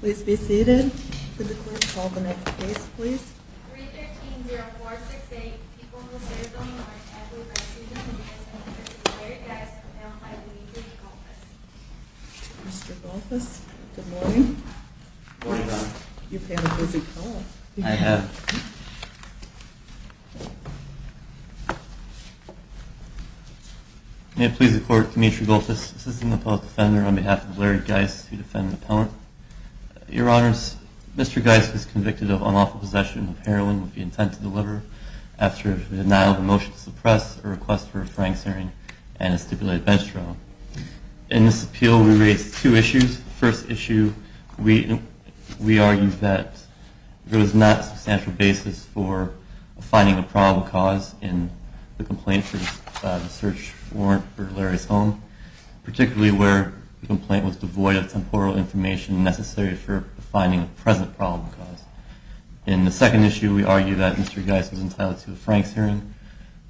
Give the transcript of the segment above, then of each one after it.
Please be seated. Could the clerk call the next case please? 3-13-0-4-6-8 People who serve the Lord as we proceed in the name of the Holy Spirit of Larry Guice, compelled by Demetri Galtas. Mr. Galtas, good morning. Good morning, Madam. You've had a busy call. I have. May it please the court, Demetri Galtas, Assistant Appellate Defender on behalf of Larry Guice, who defends the appellant. Your Honors, Mr. Guice is convicted of unlawful possession of heroin with the intent to deliver after the denial of a motion to suppress a request for a frank suing and a stipulated bench trial. In this appeal, we raise two issues. The first issue, we argue that there was not a substantial basis for finding a probable cause in the complaint for the search warrant for Larry's home, particularly where the complaint was devoid of temporal information necessary for finding a present probable cause. In the second issue, we argue that Mr. Guice was entitled to a Franks hearing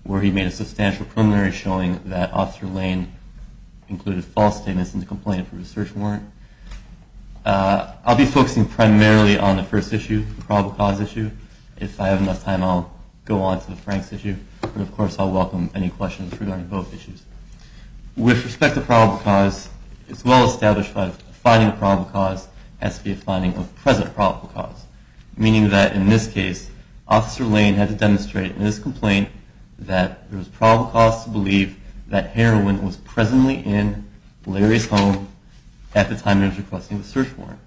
where he made a substantial preliminary showing that Officer Lane included false statements in the complaint for a search warrant. I'll be focusing primarily on the first issue, the probable cause issue. If I have enough time, I'll go on to the Franks issue. Of course, I'll welcome any questions regarding both issues. With respect to probable cause, it's well established that finding a probable cause has to be a finding of present probable cause, meaning that in this case, Officer Lane had to demonstrate in this complaint that there was probable cause to believe that heroin was presently in Larry's home at the time he was requesting the search warrant.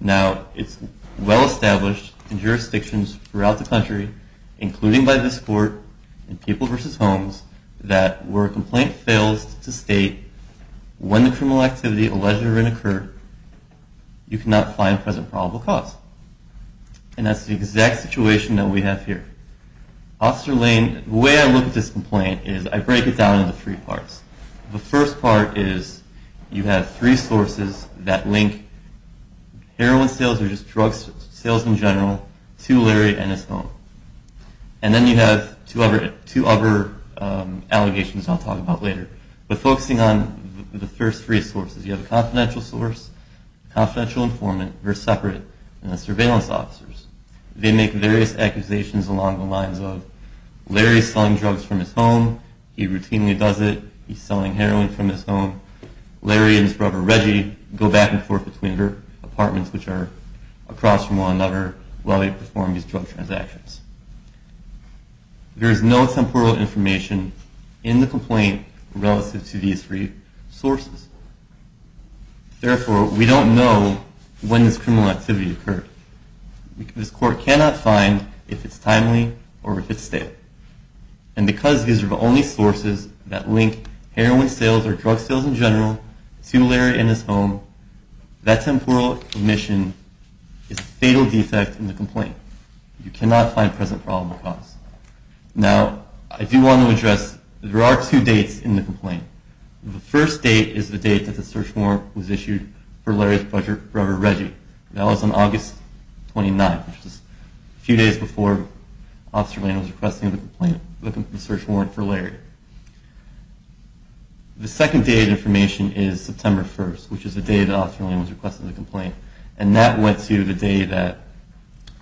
Now, it's well established in jurisdictions throughout the country, including by this Court, in People v. Homes, that where a complaint fails to state when the criminal activity alleged or incurred, you cannot find present probable cause. And that's the exact situation that we have here. Officer Lane, the way I look at this complaint is I break it down into three parts. The first part is you have three sources that link heroin sales or just drugs sales in general to Larry and his home. And then you have two other allegations I'll talk about later. But focusing on the first three sources, you have a confidential source, confidential informant versus separate, and the surveillance officers. They make various accusations along the lines of Larry's selling drugs from his home, he routinely does it, he's selling heroin from his home, Larry and his brother Reggie go back and forth between their apartments, which are across from one another while they perform these drug transactions. There is no temporal information in the complaint relative to these three sources. Therefore, we don't know when this criminal activity occurred. This court cannot find if it's timely or if it's stale. And because these are the only sources that link heroin sales or drugs sales in general to Larry and his home, that temporal omission is a fatal defect in the complaint. You cannot find present probable cause. Now, I do want to address there are two dates in the complaint. The first date is the date that the search warrant was issued for Larry's brother Reggie. That was on August 29th, which is a few days before Officer Lane was requesting the search warrant for Larry. The second date of information is September 1st, which is the date that Officer Lane was requesting the complaint. And that went to the day that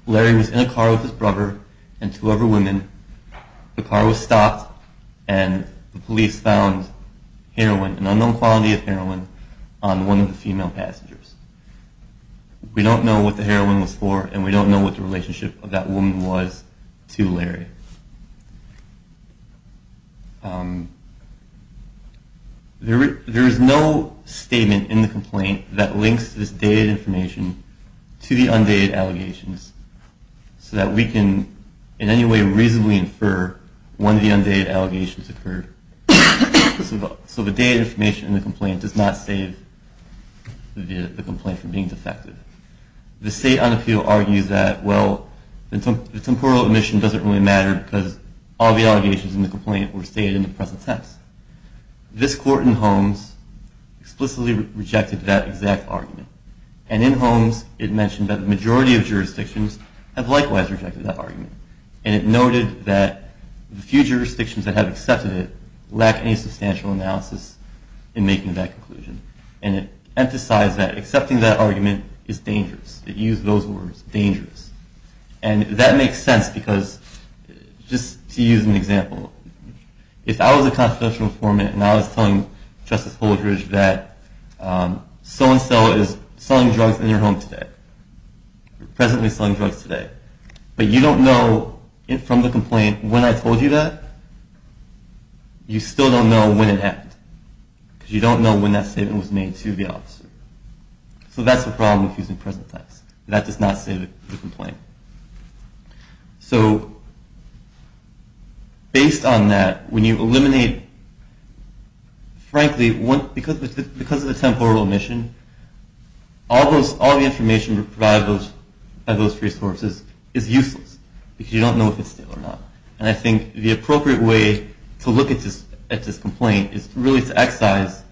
Larry was in a car with his brother and two other women. The car was stopped, and the police found heroin, an unknown quality of heroin, on one of the female passengers. We don't know what the heroin was for, and we don't know what the relationship of that woman was to Larry. There is no statement in the complaint that links this dated information to the undated allegations so that we can in any way reasonably infer when the undated allegations occurred. So the dated information in the complaint does not save the complaint from being defected. The State on Appeal argues that, well, the temporal omission doesn't really matter because all the allegations in the complaint were stated in the present tense. This court in Holmes explicitly rejected that exact argument. And in Holmes, it mentioned that the majority of jurisdictions have likewise rejected that argument. And it noted that the few jurisdictions that have accepted it lack any substantial analysis in making that conclusion. And it emphasized that accepting that argument is dangerous. It used those words, dangerous. And that makes sense because just to use an example, if I was a constitutional informant and I was telling Justice Holdridge that so-and-so is selling drugs in your home today, presently selling drugs today, but you don't know from the complaint when I told you that, you still don't know when it happened. Because you don't know when that statement was made to the officer. So that's the problem with using present tense. That does not save the complaint. So based on that, when you eliminate frankly, because of the temporal omission, all the information provided by those resources is useless because you don't know if it's still or not. And I think the appropriate way to look at this complaint is really to excise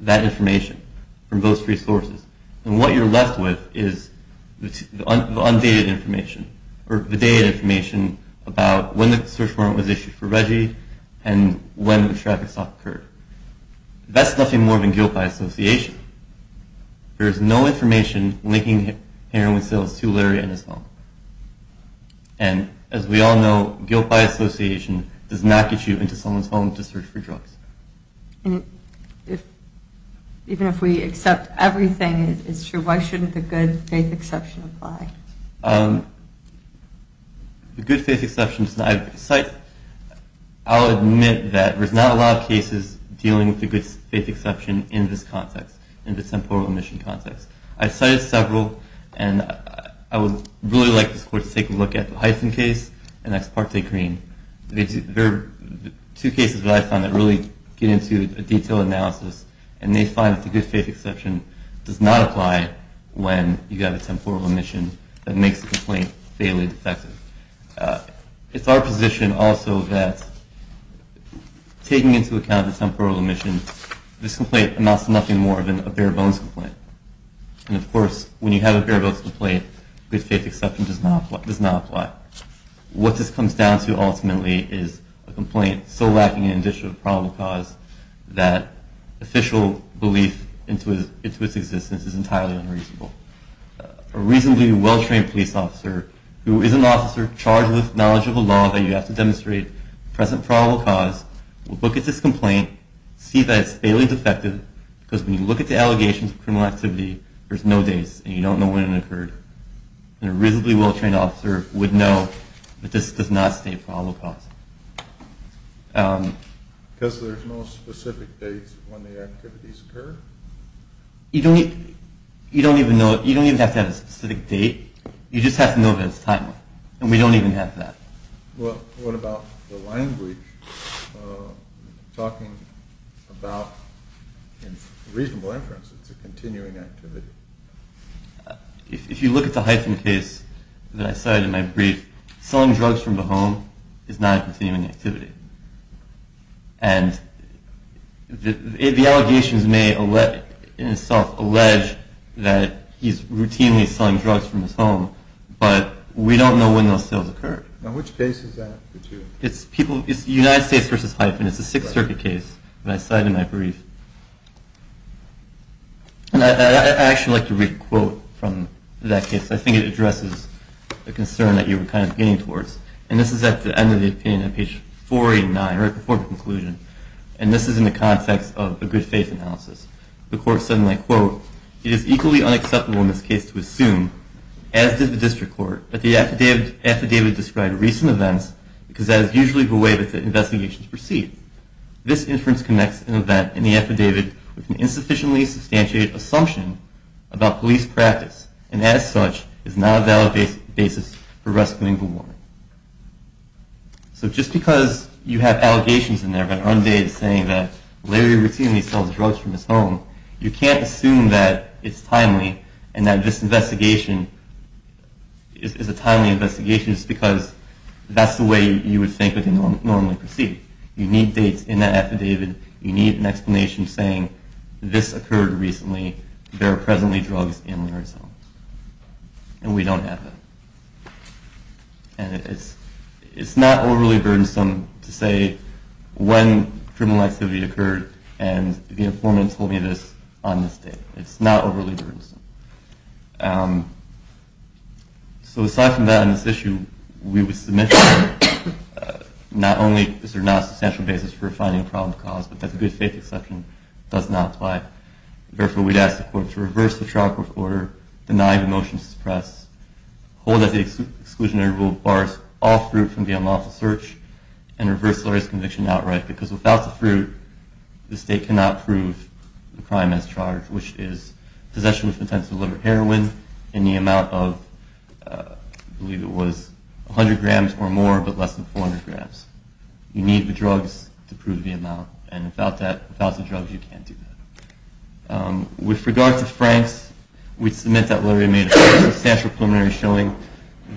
that information from those resources. And what you're left with is the undated information or the dated information about when the search warrant was issued for Reggie and when the traffic stop occurred. That's nothing more than guilt by association. There is no information linking heroin sales to Larry and his home. And as we all know, guilt by association does not get you into someone's home to search for drugs. And if even if we accept everything it's true, why shouldn't the good faith exception apply? The good faith exception, I'll admit that there's not a lot of cases dealing with the good faith exception in this context, in the temporal omission context. I've cited several, and I would really like this court to take a look at the Hyson case and the Esparte Green. They're two cases that I've found that really get into a detailed analysis, and they find that the good faith exception does not apply when you have a temporal omission that makes the complaint fairly defective. It's our position also that taking into account the temporal omission, this complaint amounts to nothing more than a bare bones complaint. And of course, when you have a bare bones complaint, the good faith exception does not apply. What this comes down to ultimately is a complaint so lacking in additional probable cause that official belief into its existence is entirely unreasonable. A reasonably well-trained police officer, who is an officer charged with knowledge of a law that you have to demonstrate present probable cause, will look at this complaint, see that it's fairly defective, because when you look at the allegations of criminal activity, there's no dates, and you don't know when it occurred. And a reasonably well-trained officer would know that this does not state probable cause. Because there's no specific dates when the activities occur? You don't even have to have a specific date. You just have to know if it's timely. And we don't even have that. What about the language talking about reasonable inference? It's a continuing activity. If you look at the Hyphen case that I cited in my brief, selling drugs from the home is not a continuing activity. And the allegations may, in itself, allege that he's routinely selling drugs from his home, but we don't know when those sales occurred. Now, which case is that? It's United States v. Hyphen. It's a Sixth Circuit case that I cited in my brief. And I'd actually like to read a quote from that case. I think it addresses the concern that you were kind of leaning towards. And this is at the end of the opinion on page 489, right before the conclusion. And this is in the context of a good faith analysis. The court said in that quote, It is equally unacceptable in this case to assume, as did the district court, that the affidavit described recent events because that is usually the way that the investigations proceed. This inference connects an event in the affidavit with an insufficiently substantiated assumption about police practice, and as such is not a valid basis for rescuing the woman. So just because you have allegations in there that are saying that Larry routinely sells drugs from his home, you can't assume that it's timely and that this investigation is a timely investigation just because that's the way you would think it would normally proceed. You need dates in that affidavit. You need an explanation saying this occurred recently. There are presently drugs in Larry's home. And we don't have that. And it's not overly burdensome to say when criminal activity occurred and the informant told me this on this date. It's not overly burdensome. So aside from that, on this issue, we would submit not only is there a non-substantial basis for finding a problem of cause, but that the good faith exception does not apply. Therefore, we'd ask the court to reverse the trial court order, deny the motion to suppress, hold that the exclusionary rule bars all fruit from the unlawful search, and reverse Larry's conviction outright. Because without the fruit, the state cannot prove the crime as charged, which is possession with intent to deliver heroin in the amount of I believe it was 100 grams or more, but less than 400 grams. You need the drugs to prove the amount. And without the drugs, you can't do that. With regard to Frank's, we'd submit that Larry made a substantial preliminary showing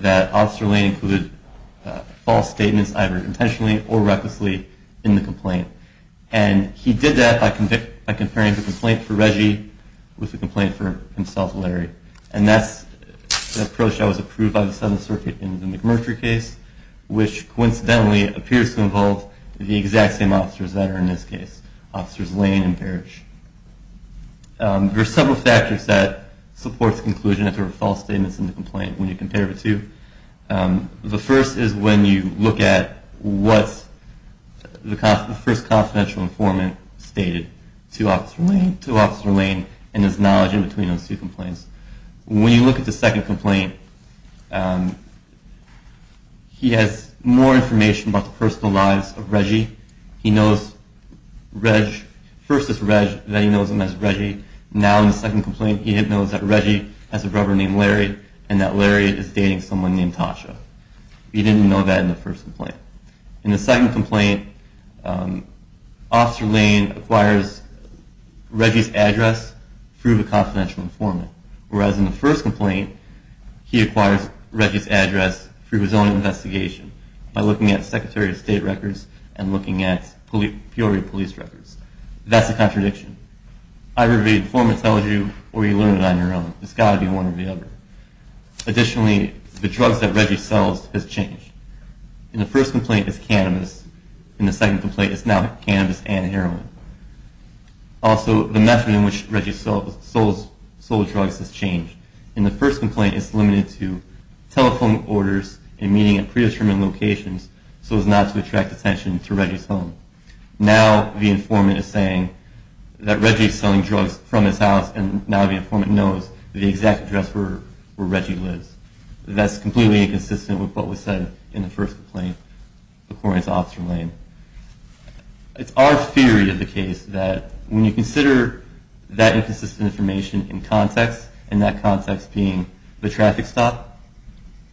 that Officer Lane included false statements, either intentionally or recklessly, in the complaint. And he did that by comparing the complaint for Reggie with the complaint for himself, Larry. And that's the approach that was approved by the Seventh Circuit in the McMurtry case, which coincidentally appears to involve the exact same officers that are in this case, Officers Lane and Parrish. There are several factors that support the conclusion that there were false statements in the complaint when you compare the two. The first is when you look at what the first confidential informant stated to Officer Lane and his knowledge in between those two complaints. When you look at the second complaint, he has more information about the personal lives of Reggie. He knows Reg versus Reg, that he knows him as Reggie. Now in the second complaint he knows that Reggie has a brother named Larry, and that Larry is dating someone named Tasha. He didn't know that in the first complaint. In the second complaint, Officer Lane acquires Reggie's address through the confidential informant. Whereas in the first complaint, he acquires Reggie's address through his own investigation, by looking at Secretary of State records and looking at Peoria Police records. That's a contradiction. Either the informant tells you, or you learn it on your own. It's got to be one or the other. Additionally, the drugs that Reggie sells has changed. In the first complaint, it's cannabis. In the second complaint, it's now cannabis and heroin. Also, the method in which Reggie sold drugs has changed. In the first complaint, it's limited to telephone orders and meeting at predetermined locations so as not to attract attention to Reggie's home. Now, the informant is saying that Reggie's selling drugs from his house, and now the informant knows the exact address where Reggie lives. That's completely inconsistent with what was said in the first complaint, according to Officer Lane. It's our theory of the case that when you consider that inconsistent information in context, in that context being the traffic stop,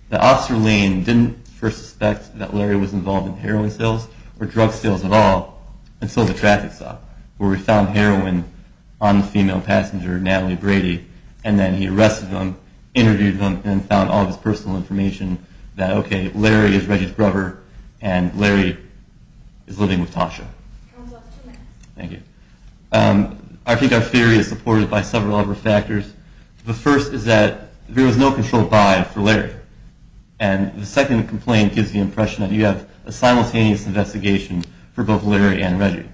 that Officer Lane didn't first suspect that Larry was involved in heroin sales or drug sales at all until the traffic stop, where we found heroin on the female passenger, Natalie Brady, and then he arrested them, interviewed them, and found all of his personal information that, okay, Larry is Reggie's brother, and Larry is living with Tasha. Thank you. I think our theory is supported by several other factors. The first is that there was no control buy for Larry, and the second complaint gives the impression that you have a simultaneous investigation for both Larry and Reggie.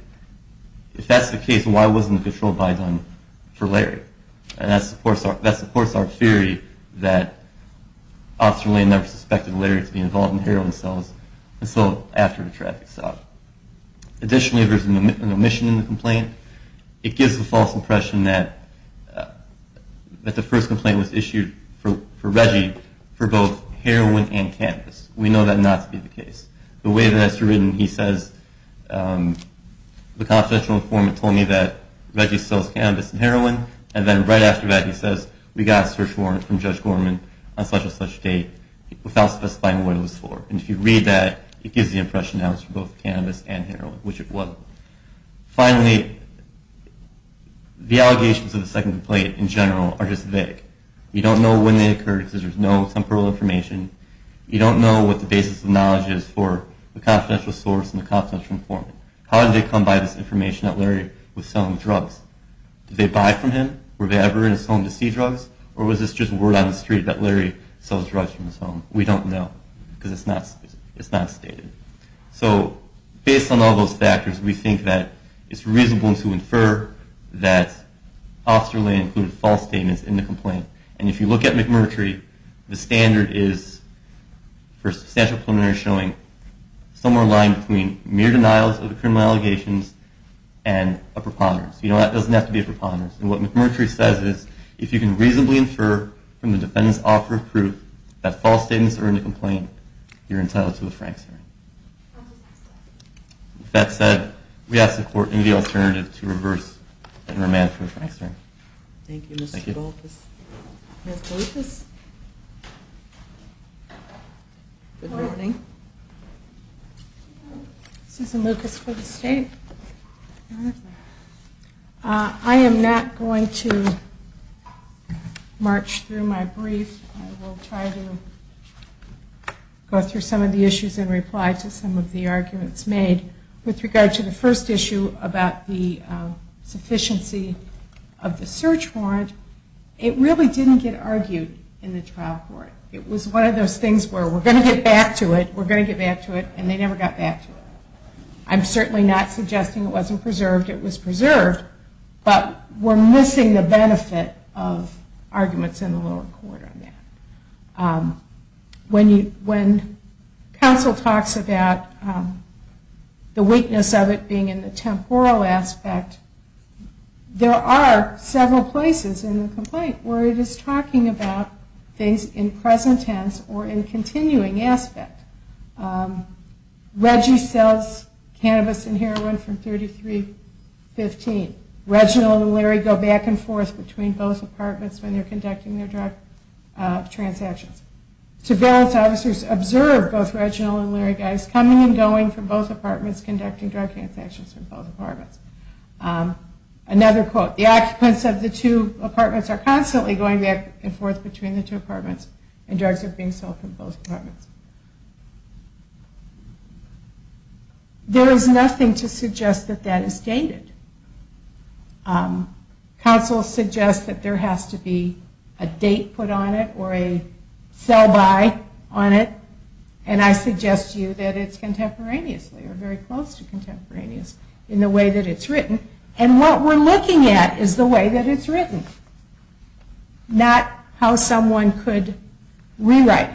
If that's the case, why wasn't the control buy done for Larry? And that supports our theory that Officer Lane never suspected Larry to be involved in heroin sales until after the traffic stop. Additionally, there's an omission in the complaint. It gives the false impression that the first complaint was issued for Reggie for both heroin and cannabis. We know that not to be the case. The way that it's written, he says, the confidential informant told me that Reggie sells cannabis and heroin, and then right after that he says, we got a search warrant from Judge Gorman on such and such date without specifying what it was for. And if you read that, it gives the impression that it was for both cannabis and heroin, which it wasn't. Finally, the allegations of the second complaint in general are just vague. You don't know when they occurred because there's no temporal information. You don't know what the basis of knowledge is for the confidential source and the confidential informant. How did they come by this information that Larry was selling drugs? Did they buy from him? Were they ever in his home to see drugs? Or was this just word on the street that Larry sells drugs from his home? We don't know because it's not stated. So, based on all those factors, we think that it's reasonable to infer that Officer Lane included false statements in the complaint. And if you look at McMurtry, the standard is for substantial preliminary showing somewhere aligned between mere denials of the criminal allegations and a preponderance. You know, that doesn't have to be a preponderance. And what McMurtry says is, if you can reasonably infer from the defendant's offer of proof that false statements are in the complaint, you're entitled to a Franks hearing. With that said, we ask the Court to need the alternative to reverse and remand for a Franks hearing. Thank you, Mr. Goldfuss. Ms. Lucas? Good morning. Susan Lucas for the State. I am not going to march through my brief. I will try to go through some of the issues and reply to some of the arguments made. With regard to the first issue about the sufficiency of the search warrant, it really didn't get argued in the trial court. It was one of those things where we're going to get back to it, we're going to get back to it, and they never got back to it. I'm certainly not suggesting it wasn't preserved. It was preserved, but we're missing the benefit of arguments in the trial court. When counsel talks about the weakness of it being in the temporal aspect, there are several places in the complaint where it is talking about things in present tense or in continuing aspect. Reggie sells cannabis and heroin from 3315. Reginald and Larry go back and forth between both apartments when they're conducting their drug transactions. Surveillance officers observe both Reginald and Larry guys coming and going from both apartments conducting drug transactions from both apartments. Another quote, the occupants of the two apartments are constantly going back and forth between the two apartments and drugs are being sold from both apartments. There is nothing to suggest that that is stated. Counsel suggests that there has to be a date put on it or a sell-by on it and I suggest you that it's contemporaneous, very close to contemporaneous in the way that it's written and what we're looking at is the way that it's written. Not how someone could rewrite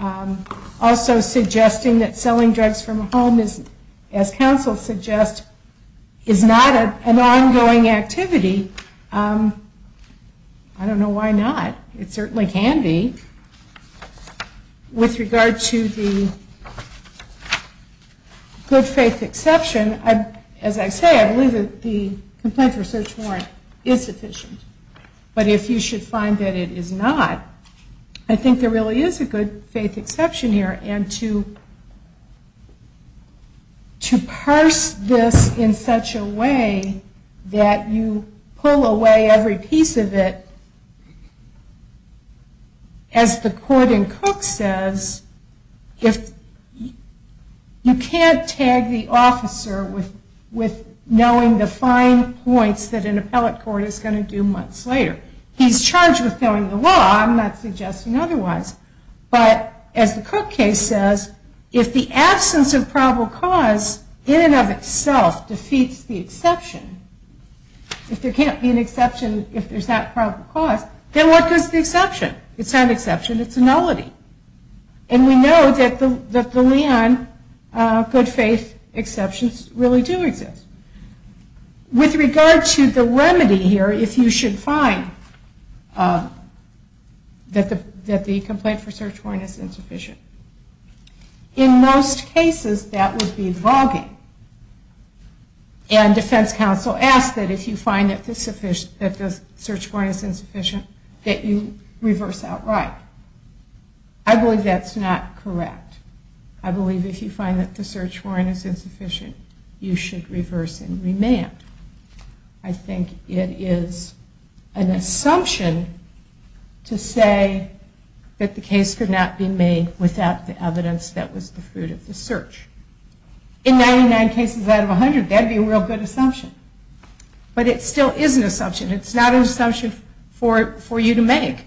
it. Also suggesting that selling drugs from a home is, as is not an ongoing activity. I don't know why not. It certainly can be. With regard to the good faith exception, as I say, I believe that the complaint for search warrant is sufficient, but if you should find that it is not, I think there really is a good faith exception here and to parse this in such a way that you pull away every piece of it as the court in Cook says, you can't tag the officer with knowing the fine points that an appellate court is going to do months later. He's charged with knowing the law, I'm not suggesting otherwise, but as the Cook case says, if the in and of itself defeats the exception, if there can't be an exception if there's not proper cause, then what is the exception? It's not an exception, it's a nullity. And we know that the Leon good faith exceptions really do exist. With regard to the remedy here, if you should find that the complaint for search warrant is insufficient, in most cases that would be voguing. And defense counsel asks that if you find that the search warrant is insufficient, that you reverse outright. I believe that's not correct. I believe if you find that the search warrant is insufficient, you should reverse and remand. I think it is an assumption to say that the case could not be made without the evidence that was the fruit of the search. In 99 cases out of 100, that would be a real good assumption. But it still is an assumption. It's not an assumption for you to make.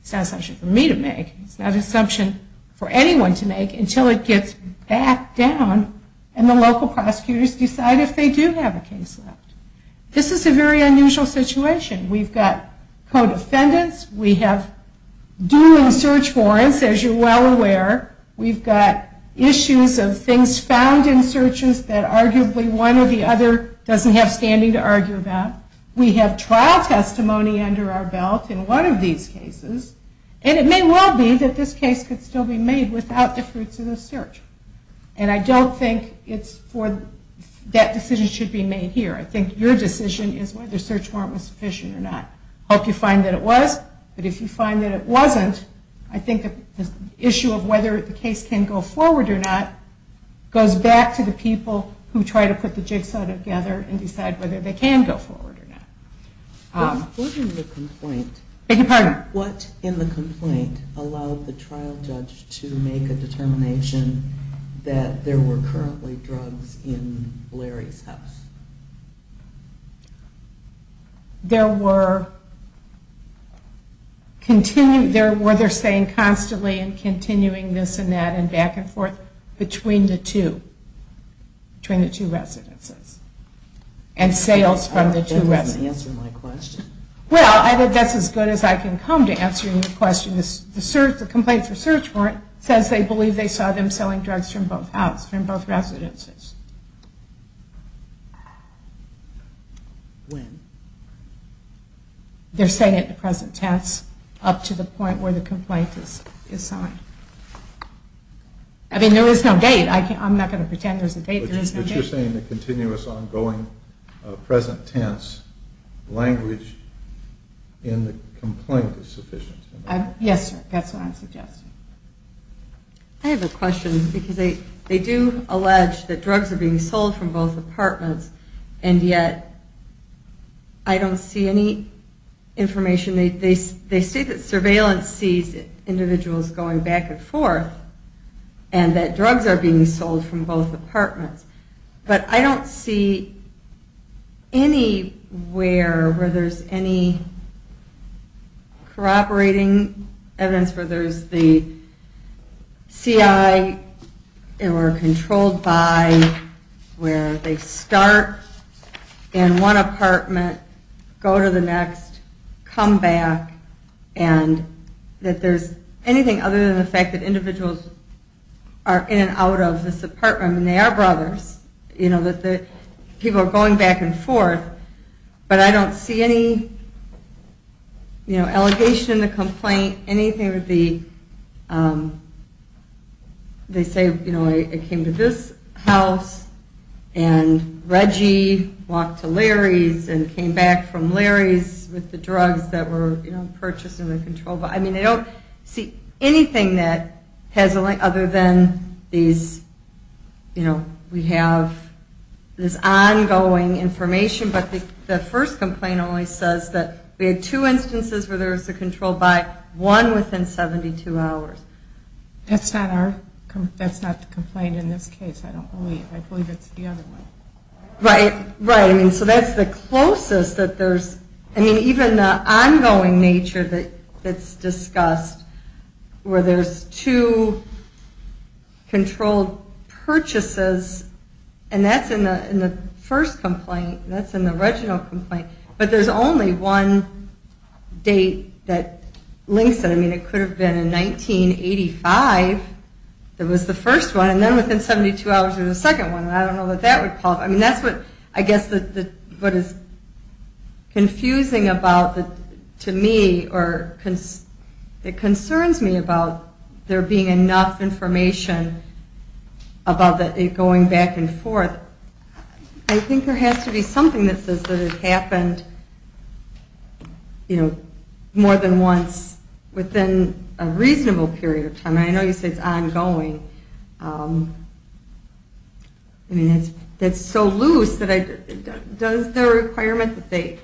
It's not an assumption for me to make. It's not an assumption for anyone to make until it gets back down and the local prosecutors decide if they do have a case left. This is a very unusual situation. We've got co-defendants, we have due and search warrants, as you're well aware. We've got issues of things found in searches that arguably one or the other doesn't have standing to argue about. We have trial testimony under our belt in one of these cases. And it may well be that this case could still be made without the fruits of the search. And I don't think that decision should be made here. I think your decision is whether the search warrant was sufficient or not. I hope you find that it wasn't. I think the issue of whether the case can go forward or not goes back to the people who try to put the jigsaw together and decide whether they can go forward or not. What in the complaint allowed the trial judge to make a determination that there were currently drugs in Larry's house? There were continuing where they're saying constantly continuing this and that and back and forth between the two between the two residences and sales from the two residences. Well, I think that's as good as I can come to answering the question. The complaint for search warrant says they believe they saw them selling drugs from both houses, from both residences. When? They're saying it in the present tense up to the point where the complaint is signed. I mean, there is no date. I'm not going to pretend there's a date. But you're saying the continuous ongoing present tense language in the complaint is sufficient. Yes, sir. That's what I'm suggesting. I have a question because they do allege that drugs are being sold from both apartments and yet I don't see any information. They state that surveillance sees individuals going back and forth and that drugs are being sold from both apartments. But I don't see anywhere where there's any corroborating evidence where there's the CI or controlled by where they start in one apartment, go to the next, come back, and that there's anything other than the fact that individuals are in and out of this apartment and they are brothers, that people are going back and forth, but I don't see any allegation, a complaint, anything with the they say it came to this house and Reggie walked to Larry's and came back from Larry's with the drugs that were purchased and controlled by. I don't see anything that has other than we have this ongoing information but the first complaint only says that we had two instances where there was a controlled by, one within 72 hours. That's not the complaint in this case. I believe it's the other one. Right, right. So that's the closest that there's even the ongoing nature that's discussed where there's two controlled purchases and that's in the first complaint, that's in the original complaint, but there's only one date that links it. I mean, it could have been in 1985 that was the first one and then within 72 hours there was a second one and I don't know what that would call it. That's what I guess is confusing about to me or it concerns me about there being enough information about it going back and forth. I think there has to be something that says that it happened you know, more than once within a reasonable period of time. I know you said it's ongoing. I mean, it's so loose that does the requirement that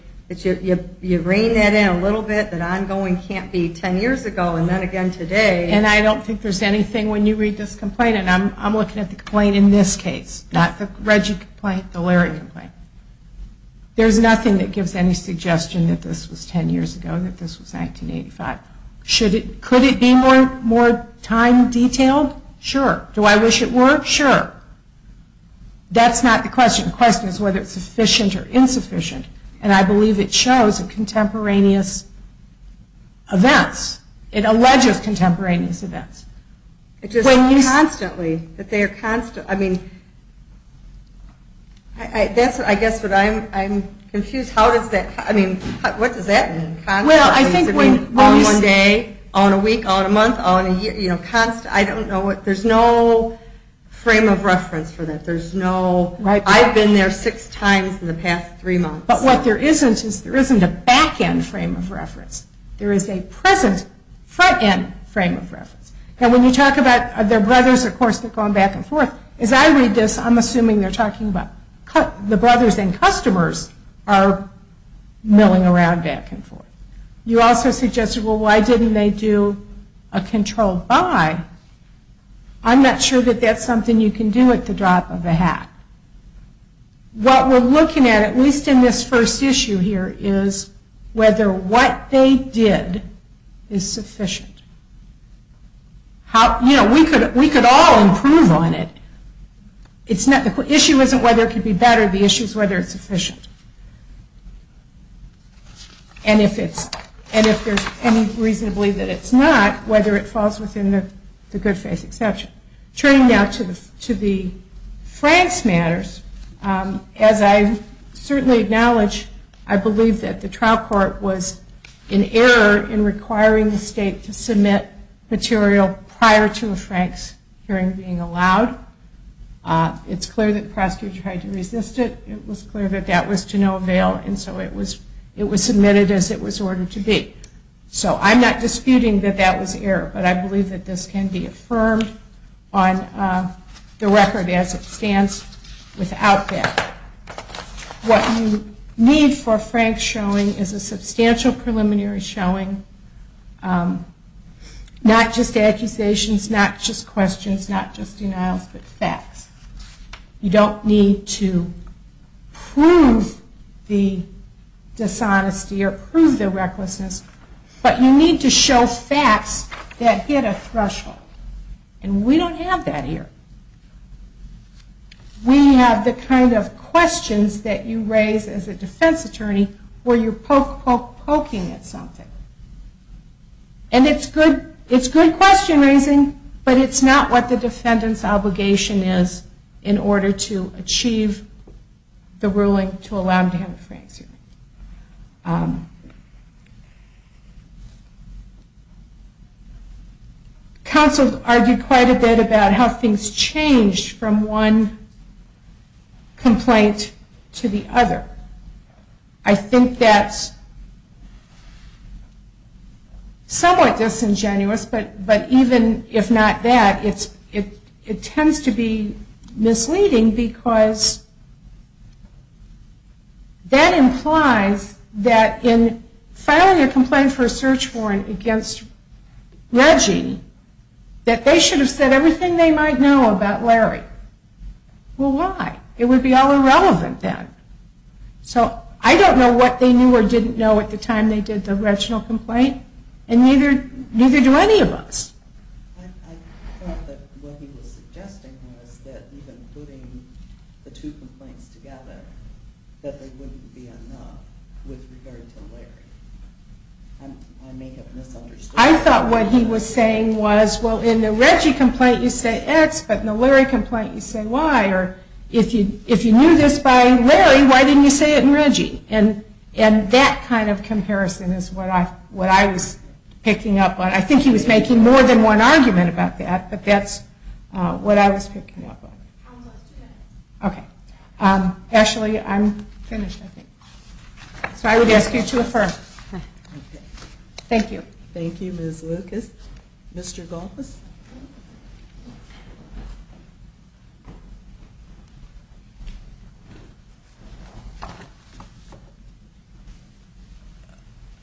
you reign that in a little bit, that ongoing can't be 10 years ago and then again today. And I don't think there's anything when you read this complaint, and I'm looking at the complaint in this case, not the Reggie complaint, the Larry complaint. There's nothing that gives any suggestion that this was 10 years ago, that this was 1985. Could it be more time detailed? Sure. Do I wish it were? Sure. That's not the question. The question is whether it's sufficient or insufficient and I believe it shows a contemporaneous alleges contemporaneous events. It's just constantly, that they're constantly, I mean, I guess that I'm confused. How does that I mean, what does that mean? Well, I think when all in one day, all in a week, all in a month, all in a year, you know, constant, I don't know what, there's no frame of reference for that. There's no, I've been there six times in the past three months. But what there isn't is there isn't a back-end frame of reference. There is a present front-end frame of reference. And when you talk about their brothers, of course, they're going back and forth. As I read this, I'm assuming they're talking about the brothers and customers are milling around back and forth. You also suggested, well, why didn't they do a controlled buy? I'm not sure that that's something you can do at the drop of a hat. What we're looking at, at least in this first issue here, is whether what they did is sufficient. You know, we could all improve on it. It's not, the issue isn't whether it could be better, the issue is whether it's sufficient. And if it's, and if there's any reason to believe that it's not, whether it falls within the good faith exception. Turning now to the Franks matters, as I certainly acknowledge, I believe that the trial court was in error in requiring the state to submit material prior to a Franks hearing being allowed. It's clear that prosecutors tried to resist it, it was clear that that was to no avail, and so it was submitted as it was ordered to be. So I'm not disputing that that was error, but I believe that this can be affirmed on the record as it stands without that. What you need for Franks showing is a substantial preliminary showing, not just accusations, not just questions, not just denials, but facts. You don't need to prove the dishonesty or prove the recklessness, but you need to show facts that hit a threshold. And we don't have that here. We have the kind of questions that you raise as a defense attorney where you're poking at something. And it's good question raising, but it's not what the defendant's obligation is in order to achieve the ruling to allow him to have a Franks hearing. Counsel argued quite a bit about how things changed from one complaint to the other. I think that's somewhat disingenuous, but even if not that, it tends to be misleading because that implies that in filing a complaint for a search warrant against Reggie, that they should have said everything they might know about Larry. Well, why? It would be all irrelevant then. So I don't know what they knew or didn't know at the time they did the Reginald complaint, and neither do any of us. I thought what he was saying was, well, in the Reggie complaint you say X, but in the Larry complaint you say Y, or if you knew this by Larry, why didn't you say it in Reggie? And that kind of comparison is what I was picking up on. I think he was making more than one argument about that, but that's what I was picking up on. Thank you. I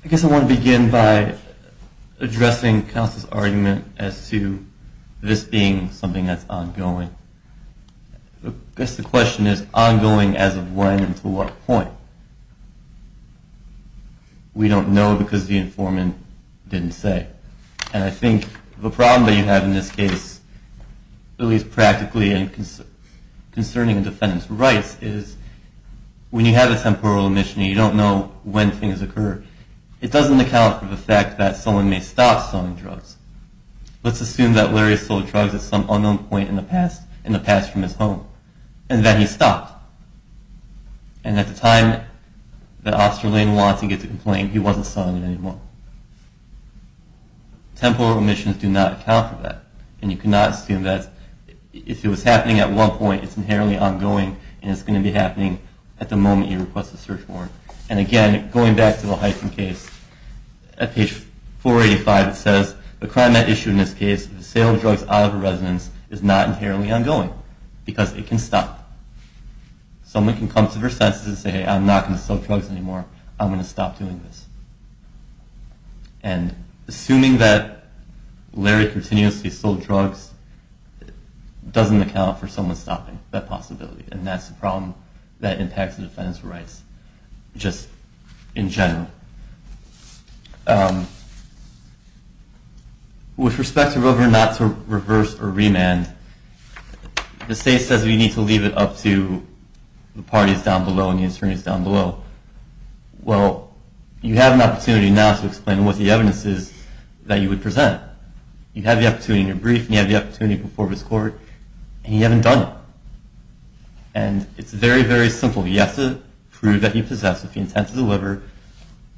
guess I want to begin by addressing Council's argument as to this being something that's ongoing. I guess the question is, ongoing as of when and to what point? We don't know because the informant didn't say. And I think the problem that you have in this case, at least practically, is that concerning defendant's rights is when you have a temporal omission and you don't know when things occur, it doesn't account for the fact that someone may stop selling drugs. Let's assume that Larry has sold drugs at some unknown point in the past, in the past from his home, and that he stopped. And at the time that Osterling wants and gets a complaint, he wasn't selling it anymore. Temporal omissions do not account for that. And you cannot assume that if it was happening at one point, it's inherently ongoing, and it's going to be happening at the moment you request a search warrant. And again, going back to the Hyken case, at page 485 it says, the crime at issue in this case, the sale of drugs out of a residence, is not inherently ongoing because it can stop. Someone can come to their senses and say, hey, I'm not going to sell drugs anymore. I'm going to stop doing this. And assuming that Larry continuously sold drugs, it doesn't account for someone stopping that possibility. And that's a problem that impacts the defendant's rights just in general. With respect to whether or not to reverse or remand, the state says we need to leave it up to the parties down below and the attorneys down below. Well, you have an opportunity now to explain what the evidence is that you would present. You have the opportunity in your brief, and you have the opportunity before this court, and you haven't done it. And it's very, very simple. You have to prove that you possess with the intent to deliver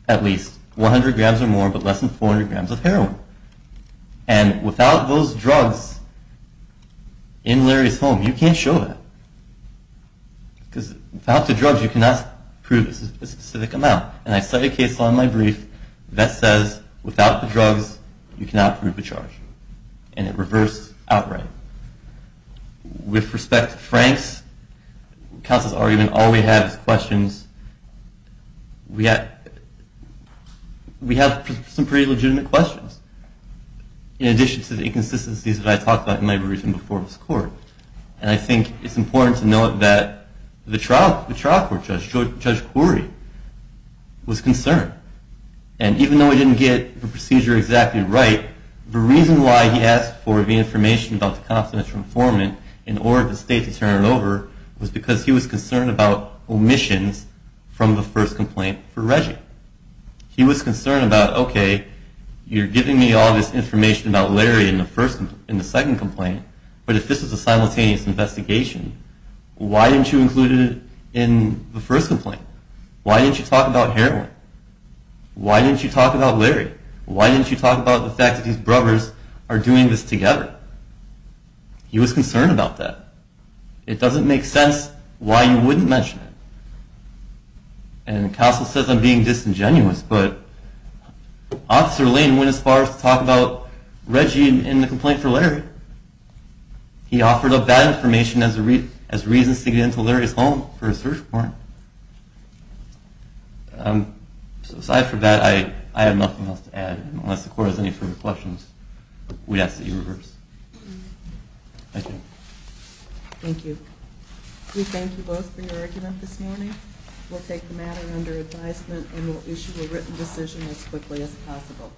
at least 100 grams or more but less than 400 grams of heroin. And without those drugs in Larry's home, you can't show that. Because without the drugs you cannot prove a specific amount. And I set a case law in my brief that says without the drugs you cannot prove a charge. And it reversed outright. With respect to Frank's counsel's argument, all we have is questions. We have some pretty legitimate questions in addition to the inconsistencies that I talked about in my brief and before this court. And I think it's important to know that the trial court judge, Judge Quarry, was concerned. And even though he didn't get the procedure exactly right, the reason why he asked for the information about the confidential informant in order for the state to turn it over was because he was concerned about omissions from the first complaint for Reggie. He was concerned about, okay, you're giving me all this information about Larry in the second complaint, but if this is a simultaneous investigation, why didn't you include it in the first complaint? Why didn't you talk about heroin? Why didn't you talk about Larry? Why didn't you talk about the fact that these brothers are doing this together? He was concerned about that. It doesn't make sense why you wouldn't mention it. And counsel says I'm being disingenuous, but Officer Lane went as far as to talk about Reggie in the complaint for Larry. He offered up that information as reasons to get into Larry's home for a search warrant. Aside from that, I have nothing else to add. Unless the Court has any further questions, we ask that you reverse. Thank you. Thank you. We thank you both for your argument this morning. We'll take the matter under advisement and we'll issue a written decision as quickly as possible.